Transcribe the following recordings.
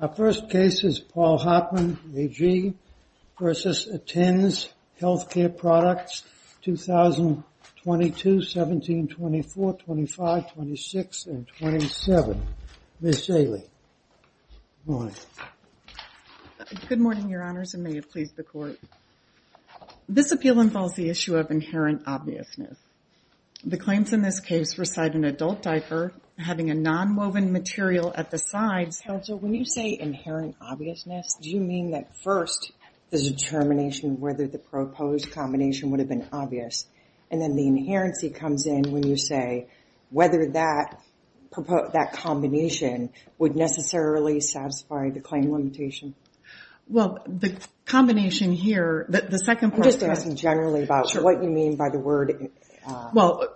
Our first case is Paul Hartmann AG v. Attends Healthcare Products, 2022-17, 24, 25, 26, and 27. Ms. Jaley, good morning. Good morning, Your Honors, and may it please the Court. This appeal involves the issue of inherent obviousness. The claims in this case reside in an adult diaper having a nonwoven material at the sides. Counsel, when you say inherent obviousness, do you mean that first, the determination of whether the proposed combination would have been obvious, and then the inherency comes in when you say whether that combination would necessarily satisfy the claim limitation? Well, the combination here, the second part of that... I'm just asking generally about what you mean by the word... Well,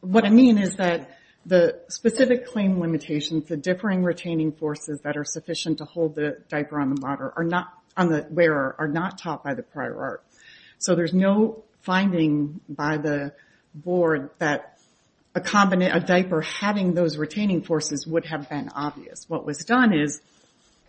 what I mean is that the specific claim limitations, the differing retaining forces that are sufficient to hold the diaper on the wearer are not taught by the prior art. So there's no finding by the Board that a diaper having those retaining forces would have been obvious. What was done is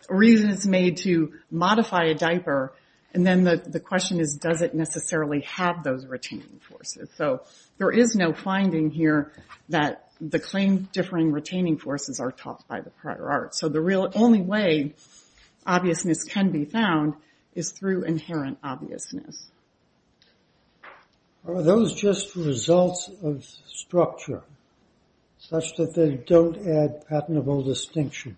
reasons made to modify a diaper, and then the question is, does it necessarily have those retaining forces? So there is no finding here that the claim differing retaining forces are taught by the prior art. So the real only way obviousness can be found is through inherent obviousness. Are those just results of structure, such that they don't add patentable distinction?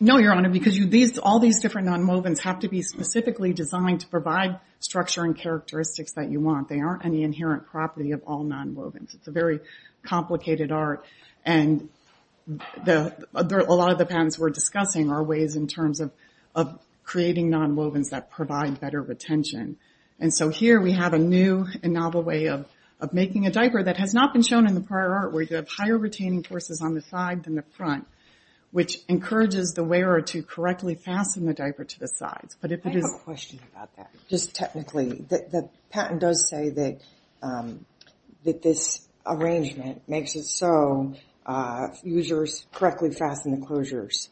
No, Your Honor, because all these different nonwovens have to be specifically designed to provide structure and characteristics that you want. They aren't any inherent property of all nonwovens. It's a very complicated art, and a lot of the patents we're discussing are ways in terms of creating nonwovens that provide better retention. And so here we have a new and novel way of making a diaper that has not been shown in the prior art, where you have higher retaining forces on the side than the front, which encourages the wearer to correctly fasten the diaper to the sides. I have a question about that, just technically. The patent does say that this arrangement makes it so fusers correctly fasten the closures.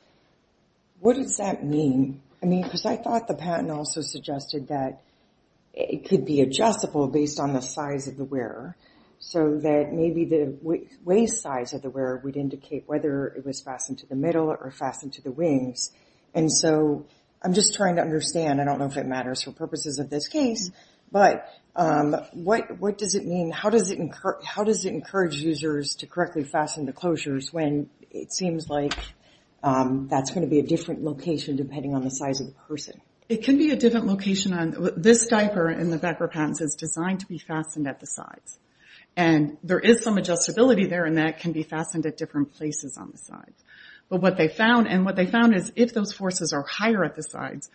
What does that mean? I mean, because I thought the patent also suggested that it could be adjustable based on the size of the wearer, so that maybe the waist size of the wearer would indicate whether it was fastened to the middle or fastened to the wings. And so I'm just trying to understand, I don't know if it matters for purposes of this case, but what does it mean, how does it encourage users to correctly fasten the closures when it seems like that's going to be a different location depending on the size of the person? It can be a different location. This diaper in the Becker patents is designed to be fastened at the sides, and there is some adjustability there in that it can be fastened at different places on the sides. But what they found, and what they found is if those forces are higher at the sides,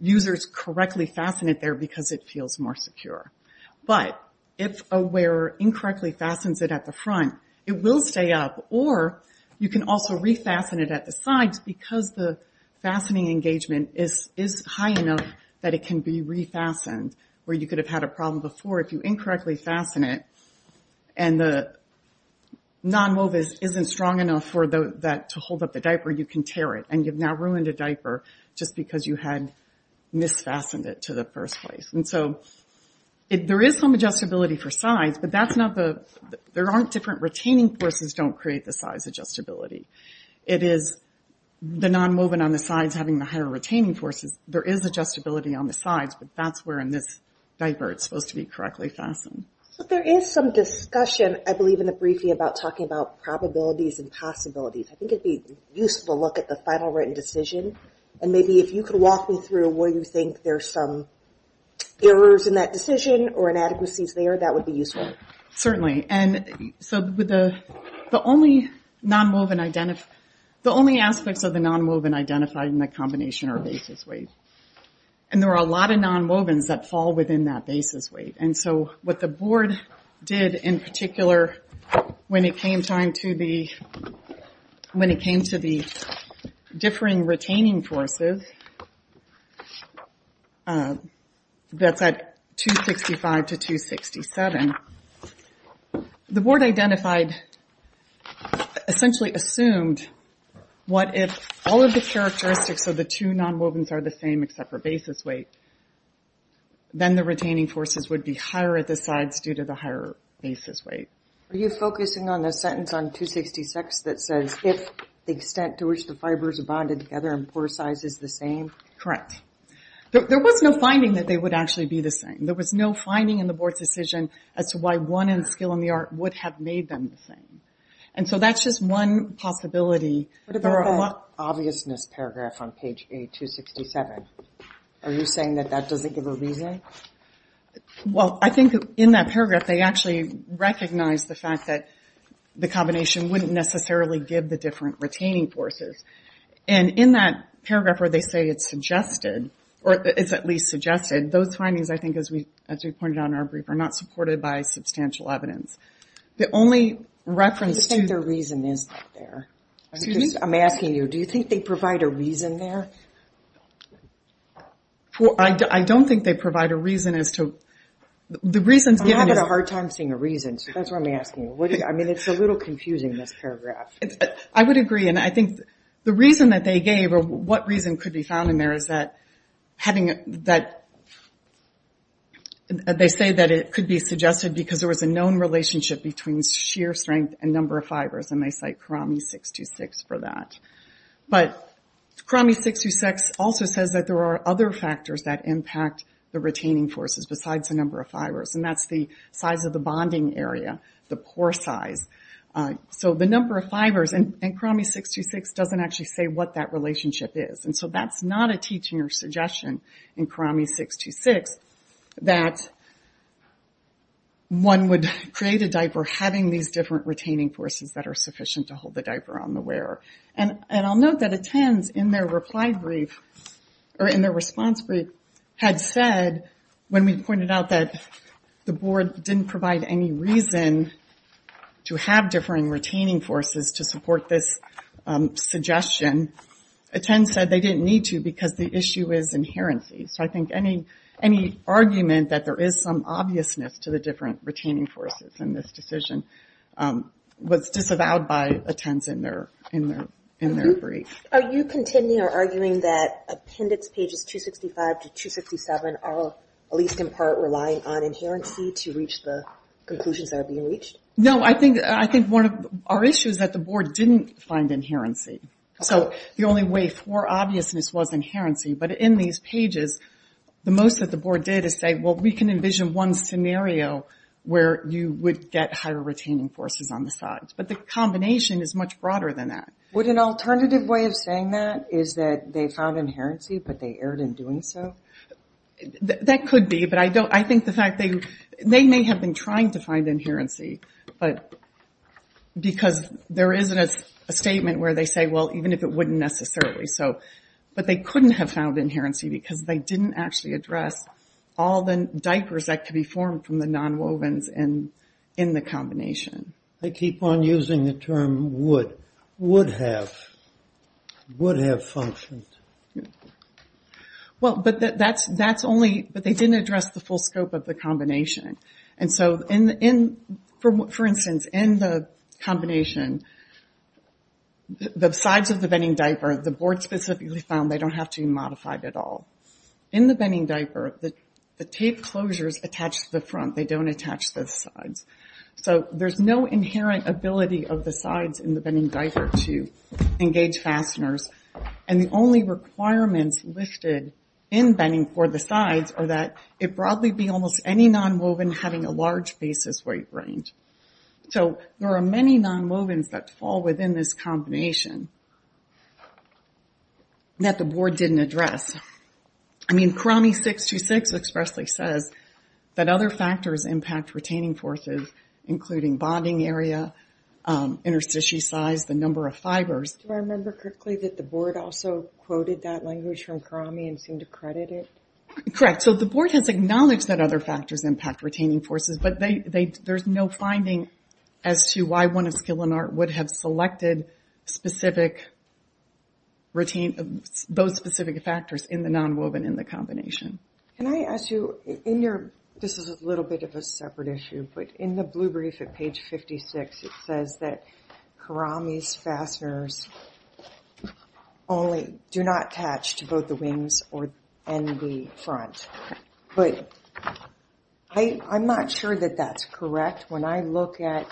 users correctly fasten it there because it feels more secure. But if a wearer incorrectly fastens it at the front, it will stay up, or you can also refasten it at the sides because the fastening engagement is high enough that it can be refastened, where you could have had a problem before if you incorrectly fasten it, and the non-woven isn't strong enough to hold up the diaper, you can tear it, and you've now ruined a diaper just because you had mis-fastened it to the first place. And so there is some adjustability for sides, but there aren't different retaining forces that don't create the size adjustability. It is the non-woven on the sides having the higher retaining forces. There is adjustability on the sides, but that's where in this diaper it's supposed to be correctly fastened. But there is some discussion, I believe, in the briefing about talking about probabilities and possibilities. I think it'd be useful to look at the final written decision, and maybe if you could walk me through where you think there's some errors in that decision, or inadequacies there, that would be useful. Certainly, and so the only aspects of the non-woven identified in the combination are basis weight. And there are a lot of non-wovens that fall within that basis weight. And so what the board did, in particular, when it came to the differing retaining forces that's at 265 to 267, the board identified, essentially assumed, what if all of the characteristics of the two non-wovens are the same except for basis weight, then the retaining forces would be higher at the sides due to the higher basis weight. Are you focusing on the sentence on 266 that says, if the extent to which the fibers are bonded together and pore size is the same? Correct. There was no finding that they would actually be the same. There was no finding in the board's decision as to why one skill in the art would have made them the same. And so that's just one possibility. What about that obviousness paragraph on page 267? Are you saying that that doesn't give a reason? Well, I think in that paragraph they actually recognize the fact that the combination wouldn't necessarily give the different retaining forces. And in that paragraph where they say it's suggested, or it's at least suggested, those findings, I think, as we pointed out in our brief, are not supported by substantial evidence. The only reference to- I think their reason is there. Excuse me? I'm asking you, do you think they provide a reason there? I don't think they provide a reason as to- I'm having a hard time seeing a reason, so that's why I'm asking you. I mean, it's a little confusing, this paragraph. I would agree. And I think the reason that they gave or what reason could be found in there is that they say that it could be suggested because there was a known relationship between sheer strength and number of fibers, and they cite Karami 626 for that. But Karami 626 also says that there are other factors that impact the retaining forces besides the number of fibers, and that's the size of the bonding area, the pore size. So the number of fibers in Karami 626 doesn't actually say what that relationship is. And so that's not a teaching or suggestion in Karami 626 that one would create a diaper having these different retaining forces that are sufficient to hold the diaper on the wearer. And I'll note that ATTENDS, in their reply brief, or in their response brief, had said, when we pointed out that the board didn't provide any reason to have differing retaining forces to support this suggestion, ATTENDS said they didn't need to because the issue is inherency. So I think any argument that there is some obviousness to the different retaining forces in this decision was disavowed by ATTENDS in their brief. Are you continuing or arguing that appendix pages 265 to 267 are, at least in part, relying on inherency to reach the conclusions that are being reached? No, I think one of our issues is that the board didn't find inherency. So the only way for obviousness was inherency. But in these pages, the most that the board did is say, well, we can envision one scenario where you would get higher retaining forces on the sides. But the combination is much broader than that. Would an alternative way of saying that is that they found inherency but they erred in doing so? That could be. They may have been trying to find inherency because there isn't a statement where they say, well, even if it wouldn't necessarily. But they couldn't have found inherency because they didn't actually address all the diapers that could be formed from the nonwovens in the combination. I keep on using the term would. Would have. Would have functioned. But they didn't address the full scope of the combination. For instance, in the combination, the sides of the bedding diaper, the board specifically found they don't have to be modified at all. In the bedding diaper, the tape closures attach to the front. They don't attach to the sides. There's no inherent ability of the sides in the bedding diaper to engage fasteners. And the only requirements listed in bedding for the sides are that it broadly be almost any nonwoven having a large basis weight range. So there are many nonwovens that fall within this combination that the board didn't address. I mean, CRAMI 626 expressly says that other factors impact retaining forces, including bonding area, interstitial size, the number of fibers. Do I remember correctly that the board also quoted that language from CRAMI and seemed to credit it? Correct. So the board has acknowledged that other factors impact retaining forces. But there's no finding as to why one of Skill and Art would have selected those specific factors in the nonwoven in the combination. Can I ask you, this is a little bit of a separate issue. But in the blue brief at page 56, it says that CRAMI's fasteners only do not attach to both the wings and the front. But I'm not sure that that's correct. When I look at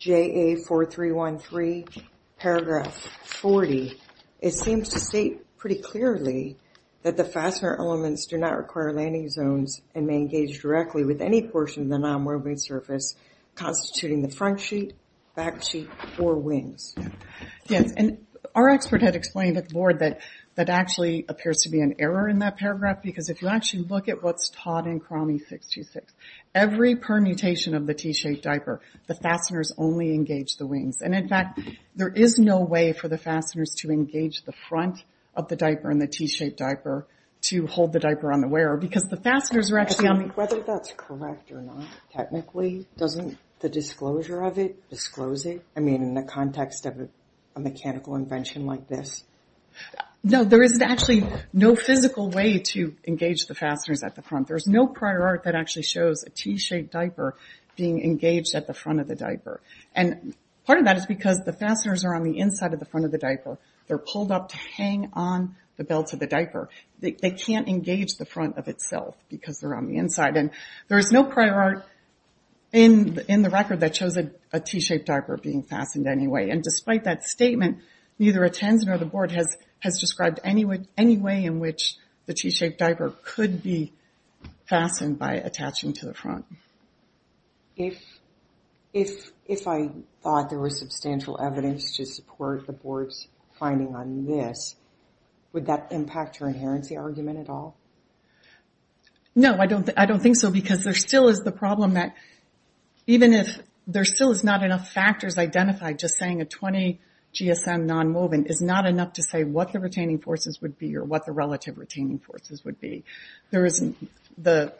JA4313 paragraph 40, it seems to state pretty clearly that the fastener elements do not require landing zones and may engage directly with any portion of the nonwoven surface, constituting the front sheet, back sheet, or wings. Yes. And our expert had explained at the board that that actually appears to be an error in that paragraph. Because if you actually look at what's taught in CRAMI 626, every permutation of the T-shaped diaper, the fasteners only engage the wings. And, in fact, there is no way for the fasteners to engage the front of the diaper in the T-shaped diaper to hold the diaper on the wearer. Because the fasteners are actually on the… But whether that's correct or not, technically, doesn't the disclosure of it disclose it? I mean, in the context of a mechanical invention like this? No, there is actually no physical way to engage the fasteners at the front. There is no prior art that actually shows a T-shaped diaper being engaged at the front of the diaper. And part of that is because the fasteners are on the inside of the front of the diaper. They're pulled up to hang on the belt of the diaper. They can't engage the front of itself because they're on the inside. And there is no prior art in the record that shows a T-shaped diaper being fastened anyway. And despite that statement, neither a Tanzan or the board has described any way in which the T-shaped diaper could be fastened by attaching to the front. If I thought there was substantial evidence to support the board's finding on this, would that impact her inherency argument at all? No, I don't think so because there still is the problem that even if there still is not enough factors identified, just saying a 20 GSM nonwoven is not enough to say what the retaining forces would be or what the relative retaining forces would be. The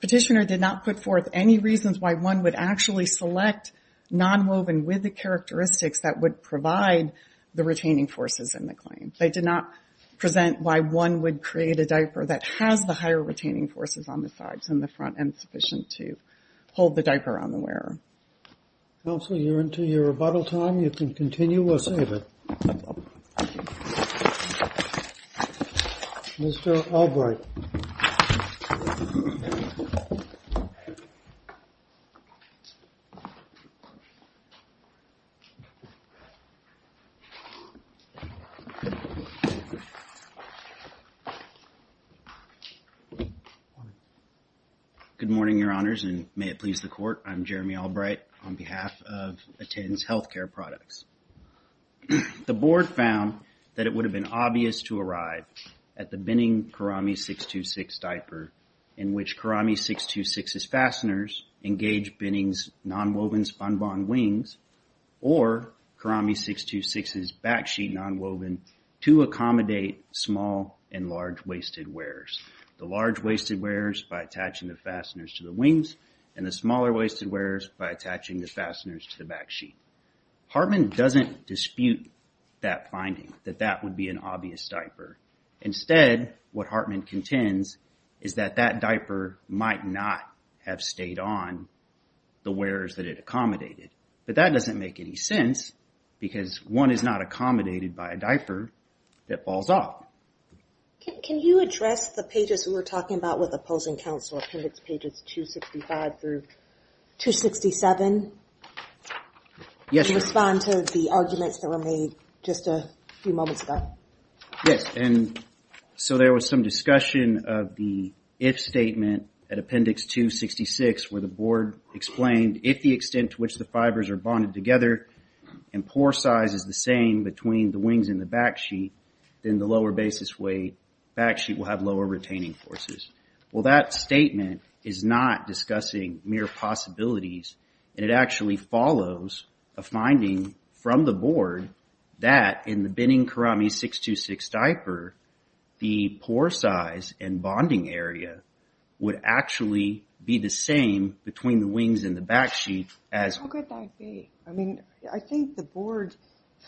petitioner did not put forth any reasons why one would actually select nonwoven with the characteristics that would provide the retaining forces in the claim. They did not present why one would create a diaper that has the higher retaining forces on the sides than the front and sufficient to hold the diaper on the wearer. Counsel, you're into your rebuttal time. You can continue or save it. Mr. Albright. Good morning, Your Honors, and may it please the court. I'm Jeremy Albright on behalf of ATTENZ Healthcare Products. The board found that it would have been obvious to arrive at the binning Karami 626 diaper in which Karami 626's fasteners engage binning's nonwoven spun bond wings or Karami 626's back sheet nonwoven to accommodate small and large wasted wearers. The large wasted wearers by attaching the fasteners to the wings and the smaller wasted wearers by attaching the fasteners to the back sheet. Hartman doesn't dispute that finding that that would be an obvious diaper. Instead, what Hartman contends is that that diaper might not have stayed on the wearers that it accommodated. But that doesn't make any sense because one is not accommodated by a diaper that falls off. Can you address the pages we were talking about with opposing counsel, appendix pages 265 through 267? Yes. To respond to the arguments that were made just a few moments ago. Yes, and so there was some discussion of the if statement at appendix 266 where the board explained if the extent to which the fibers are bonded together and pore size is the same between the wings and the back sheet, then the lower basis weight back sheet will have lower retaining forces. Well, that statement is not discussing mere possibilities. It actually follows a finding from the board that in the binning Karami 626 diaper, the pore size and bonding area would actually be the same between the wings and the back sheet. How could that be? I think the board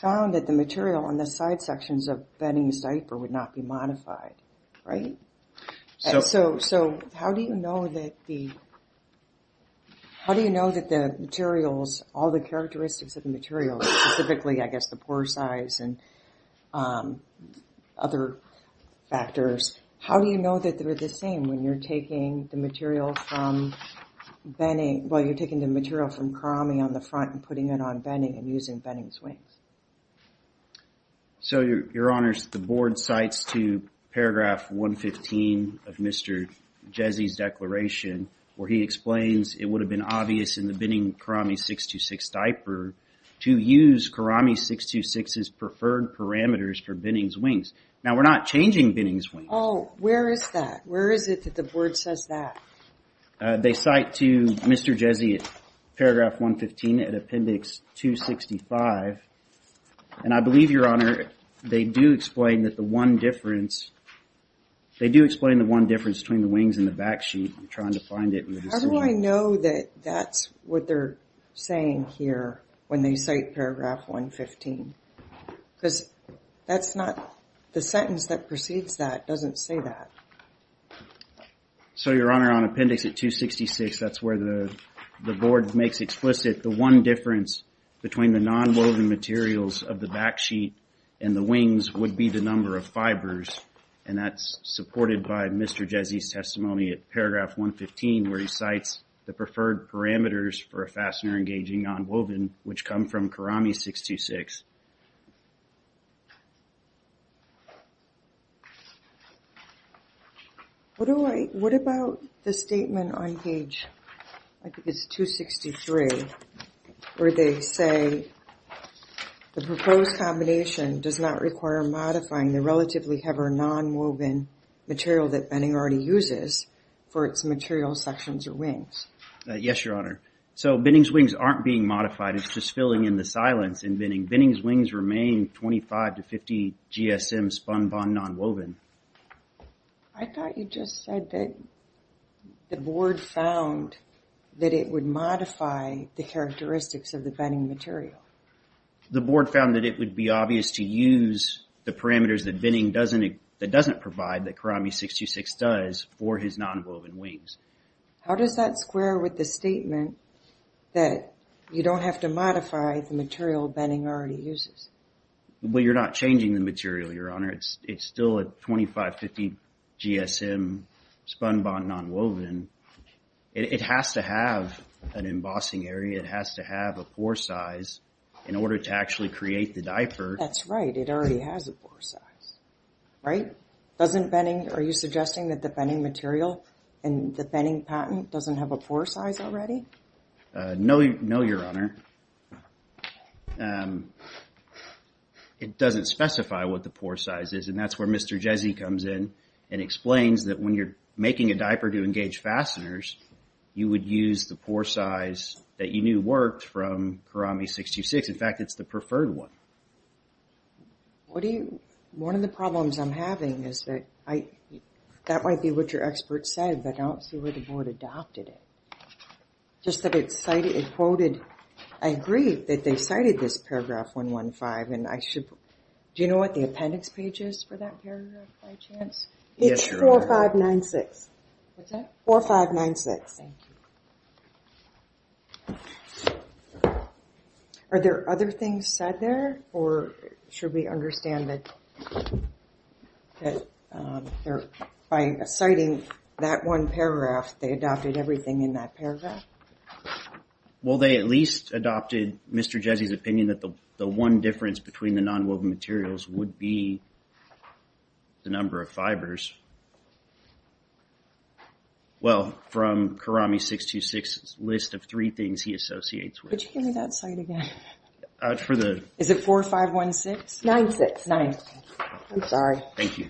found that the material on the side sections of binning the diaper would not be modified, right? So how do you know that the materials, all the characteristics of the materials, specifically I guess the pore size and other factors, how do you know that they're the same when you're taking the material from Karami on the front and putting it on binning and using binning swings? So, Your Honors, the board cites to paragraph 115 of Mr. Jezzy's declaration where he explains it would have been obvious in the binning Karami 626 diaper to use Karami 626's preferred parameters for binning swings. Now, we're not changing binning swings. Oh, where is that? Where is it that the board says that? They cite to Mr. Jezzy paragraph 115 at appendix 265. And I believe, Your Honor, they do explain that the one difference, they do explain the one difference between the wings and the back sheet. I'm trying to find it. How do I know that that's what they're saying here when they cite paragraph 115? Because that's not, the sentence that precedes that doesn't say that. So, Your Honor, on appendix 266, that's where the board makes explicit the one difference between the nonwoven materials of the back sheet and the wings would be the number of fibers. And that's supported by Mr. Jezzy's testimony at paragraph 115 where he cites the preferred parameters for a fastener engaging nonwoven, which come from Karami 626. What about the statement on page, I think it's 263, where they say the proposed combination does not require modifying the relatively heavy nonwoven material that binning already uses for its material sections or wings? Yes, Your Honor. So, binning swings aren't being modified. It's just filling in the silence in binning. Binning swings remain 25 to 50 GSM spun bond nonwoven. I thought you just said that the board found that it would modify the characteristics of the binning material. The board found that it would be obvious to use the parameters that binning doesn't, that doesn't provide that Karami 626 does for his nonwoven wings. How does that square with the statement that you don't have to modify the material binning already uses? Well, you're not changing the material, Your Honor. It's still a 25-50 GSM spun bond nonwoven. It has to have an embossing area. It has to have a pore size in order to actually create the diaper. That's right. It already has a pore size, right? Doesn't binning, are you suggesting that the binning material and the binning patent doesn't have a pore size already? No, Your Honor. It doesn't specify what the pore size is, and that's where Mr. Jezzy comes in and explains that when you're making a diaper to engage fasteners, you would use the pore size that you knew worked from Karami 626. In fact, it's the preferred one. One of the problems I'm having is that that might be what your expert said, but I don't see where the board adopted it. Just that it quoted, I agree that they cited this paragraph 115, and I should, do you know what the appendix page is for that paragraph, by chance? It's 4596. What's that? 4596. Thank you. Are there other things said there, or should we understand that by citing that one paragraph, they adopted everything in that paragraph? Well, they at least adopted Mr. Jezzy's opinion that the one difference between the nonwoven materials would be the number of fibers. Well, from Karami 626's list of three things he associates with. Could you give me that slide again? Is it 4516? 969. I'm sorry. Thank you.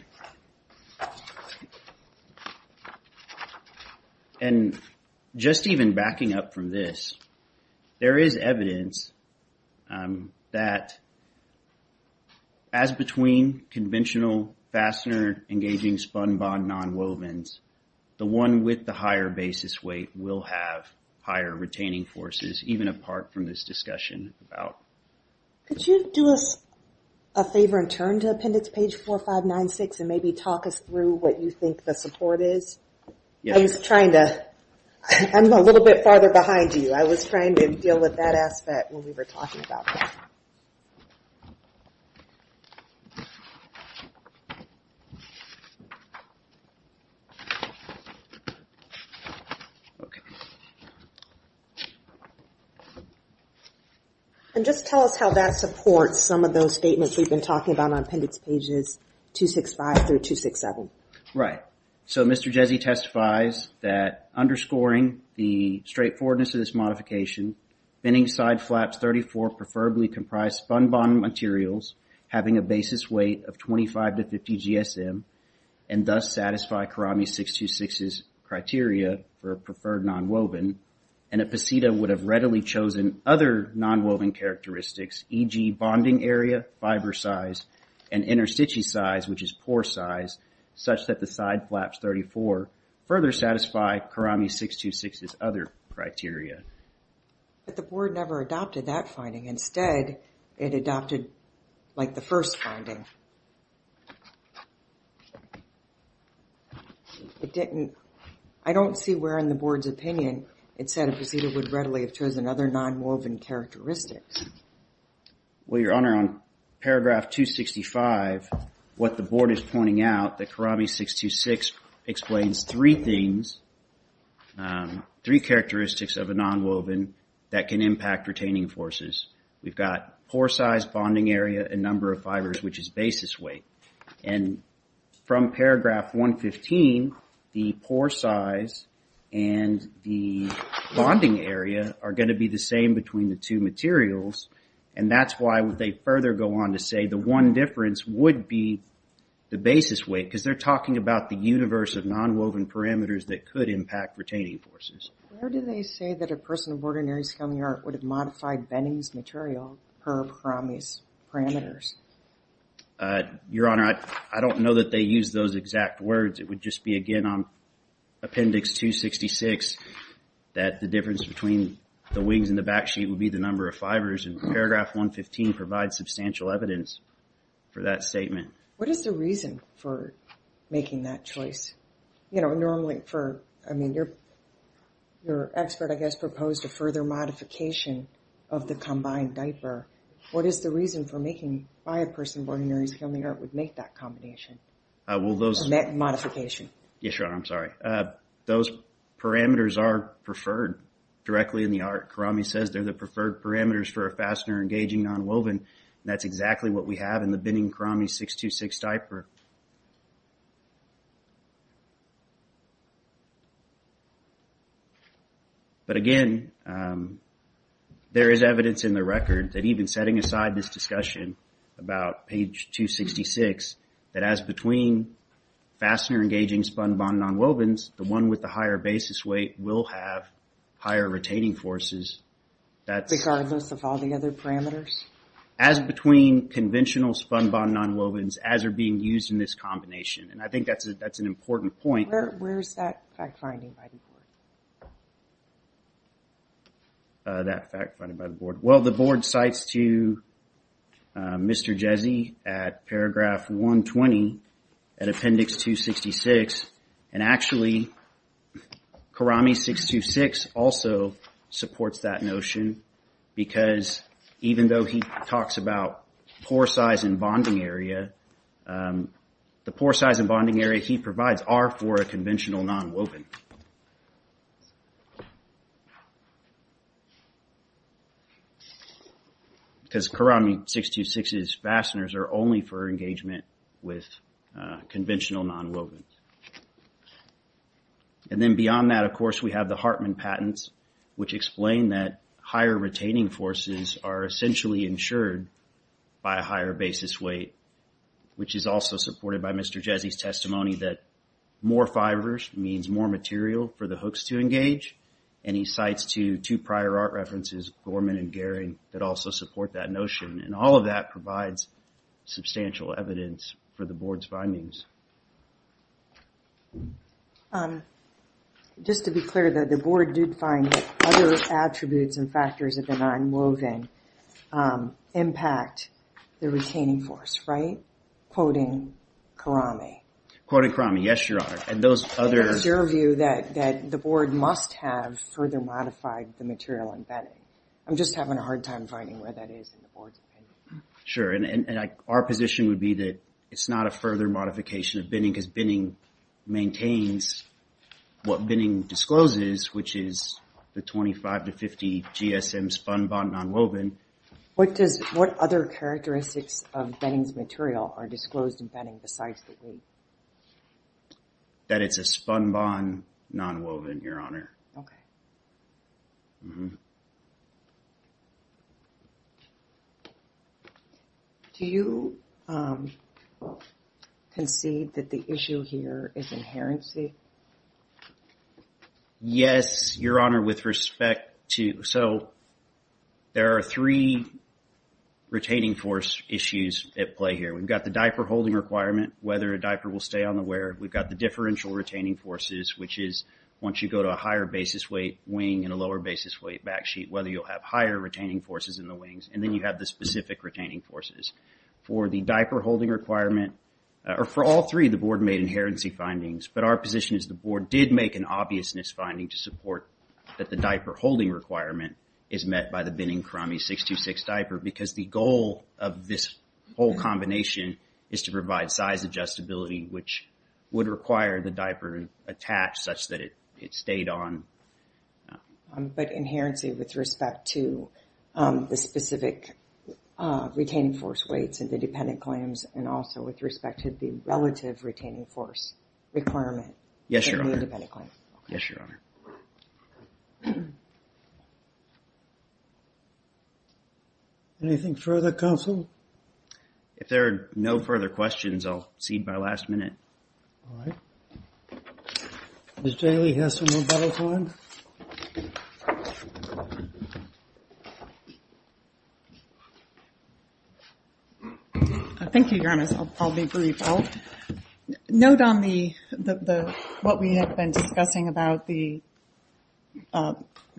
And just even backing up from this, there is evidence that as between conventional fastener-engaging spun-bond nonwovens, the one with the higher basis weight will have higher retaining forces, even apart from this discussion. Could you do us a favor and turn to appendix page 4596 and maybe talk us through what you think the support is? I'm a little bit farther behind you. I was trying to deal with that aspect when we were talking about that. And just tell us how that supports some of those statements we've been talking about on appendix pages 265 through 267. Right. So Mr. Jezzy testifies that underscoring the straightforwardness of this modification, bending side flaps 34 preferably comprise spun-bond materials having a basis weight of 25 to 50 GSM and thus satisfy Karami 626's criteria for a preferred nonwoven, and a posita would have readily chosen other nonwoven characteristics, e.g. bonding area, fiber size, and interstitial size, which is pore size, such that the side flaps 34 further satisfy Karami 626's other criteria. But the board never adopted that finding. Instead, it adopted like the first finding. I don't see where in the board's opinion it said a posita would readily have chosen other nonwoven characteristics. Well, Your Honor, on paragraph 265, what the board is pointing out that Karami 626 explains three things, three characteristics of a nonwoven that can impact retaining forces. We've got pore size, bonding area, and number of fibers, which is basis weight. And from paragraph 115, the pore size and the bonding area are going to be the same between the two materials, and that's why they further go on to say the one difference would be the basis weight, because they're talking about the universe of nonwoven parameters that could impact retaining forces. Where do they say that a person of ordinary scaly art would have modified Benning's material per Karami's parameters? Your Honor, I don't know that they use those exact words. It would just be, again, on appendix 266 that the difference between the wings and the back sheet would be the number of fibers, and paragraph 115 provides substantial evidence for that statement. What is the reason for making that choice? Normally, I mean, your expert, I guess, proposed a further modification of the combined diaper. What is the reason for making by a person of ordinary scaly art would make that combination, that modification? Yes, Your Honor, I'm sorry. Those parameters are preferred directly in the art. Karami says they're the preferred parameters for a fastener engaging nonwoven, and that's exactly what we have in the Benning Karami 626 diaper. But again, there is evidence in the record that even setting aside this discussion about page 266, that as between fastener engaging spun-bond nonwovens, the one with the higher basis weight will have higher retaining forces. Regardless of all the other parameters? As between conventional spun-bond nonwovens, as are being used in this combination. And I think that's an important point. Where's that fact finding by the board? That fact finding by the board. Well, the board cites to Mr. Jesse at paragraph 120, at appendix 266. And actually, Karami 626 also supports that notion, because even though he talks about pore size and bonding area, the pore size and bonding area he provides are for a conventional nonwoven. Because Karami 626's fasteners are only for engagement with conventional nonwovens. And then beyond that, of course, we have the Hartman patents, which explain that higher retaining forces are essentially insured by a higher basis weight. Which is also supported by Mr. Jesse's testimony that more fibers means more material for the hooks to engage. And he cites two prior art references, Gorman and Gehring, that also support that notion. And all of that provides substantial evidence for the board's findings. Just to be clear, the board did find that other attributes and factors of the nonwoven impact the retaining force, right? Quoting Karami. Quoting Karami, yes, Your Honor. And those others... It's your view that the board must have further modified the material embedding. I'm just having a hard time finding where that is in the board's opinion. Sure, and our position would be that it's not a further modification of binning because binning maintains what binning discloses, which is the 25 to 50 GSM spun bond nonwoven. What other characteristics of binning's material are disclosed in binning besides the weight? That it's a spun bond nonwoven, Your Honor. Okay. Do you concede that the issue here is inherency? Yes, Your Honor, with respect to... So there are three retaining force issues at play here. We've got the diaper holding requirement, whether a diaper will stay on the wear. We've got the differential retaining forces, which is once you go to a higher basis weight wing and a lower basis weight back sheet, whether you'll have higher retaining forces in the wings. And then you have the specific retaining forces. For the diaper holding requirement, or for all three, the board made inherency findings. But our position is the board did make an obvious misfinding to support that the diaper holding requirement is met by the binning Karami 626 diaper because the goal of this whole combination is to provide size adjustability, which would require the diaper attached such that it stayed on. But inherency with respect to the specific retaining force weights and the dependent claims and also with respect to the relative retaining force requirement. Yes, Your Honor. Yes, Your Honor. Anything further, counsel? If there are no further questions, I'll cede my last minute. All right. Ms. Jaley has some more battle time. Thank you, Your Honor. I'll be brief. I'll note on what we have been discussing about the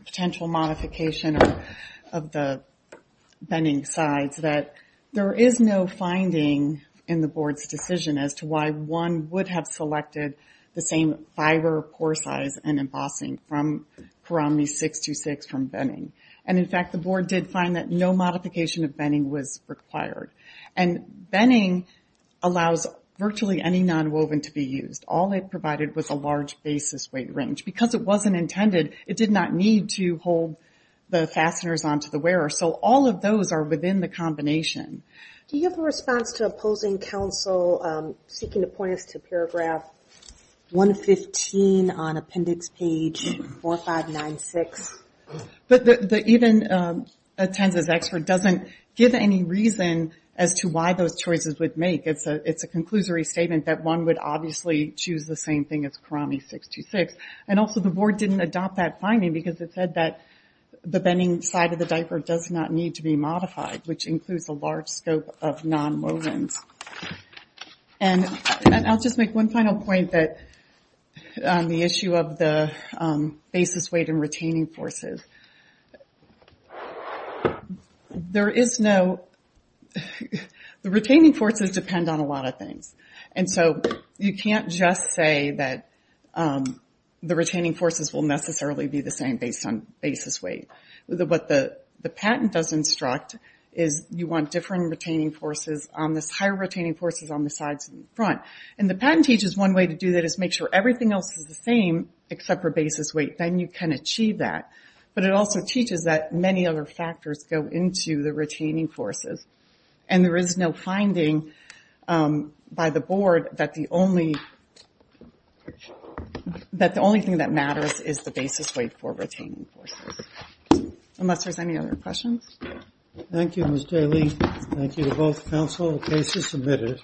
potential modification of the binning sides that there is no finding in the board's decision as to why one would have selected the same fiber, pore size, and embossing from Karami 626 from binning. And in fact, the board did find that no modification of binning was required. And binning allows virtually any nonwoven to be used. All it provided was a large basis weight range. Because it wasn't intended, it did not need to hold the fasteners onto the wearer. So all of those are within the combination. Do you have a response to opposing counsel seeking to point us to paragraph 115 on appendix page 4596? But the even attends as expert doesn't give any reason as to why those choices would make. It's a conclusory statement that one would obviously choose the same thing as Karami 626. And also the board didn't adopt that finding because it said that the binning side of the diaper does not need to be modified, which includes a large scope of nonwovens. And I'll just make one final point on the issue of the basis weight and retaining forces. The retaining forces depend on a lot of things. And so you can't just say that the retaining forces will necessarily be the same based on basis weight. What the patent does instruct is you want different retaining forces on the higher retaining forces on the sides and front. And the patent teaches one way to do that is make sure everything else is the same except for basis weight. Then you can achieve that. But it also teaches that many other factors go into the retaining forces. And there is no finding by the board that the only thing that matters is the basis weight for retaining forces. Unless there's any other questions. Thank you, Ms. Daly. Thank you to both counsel and cases submitted.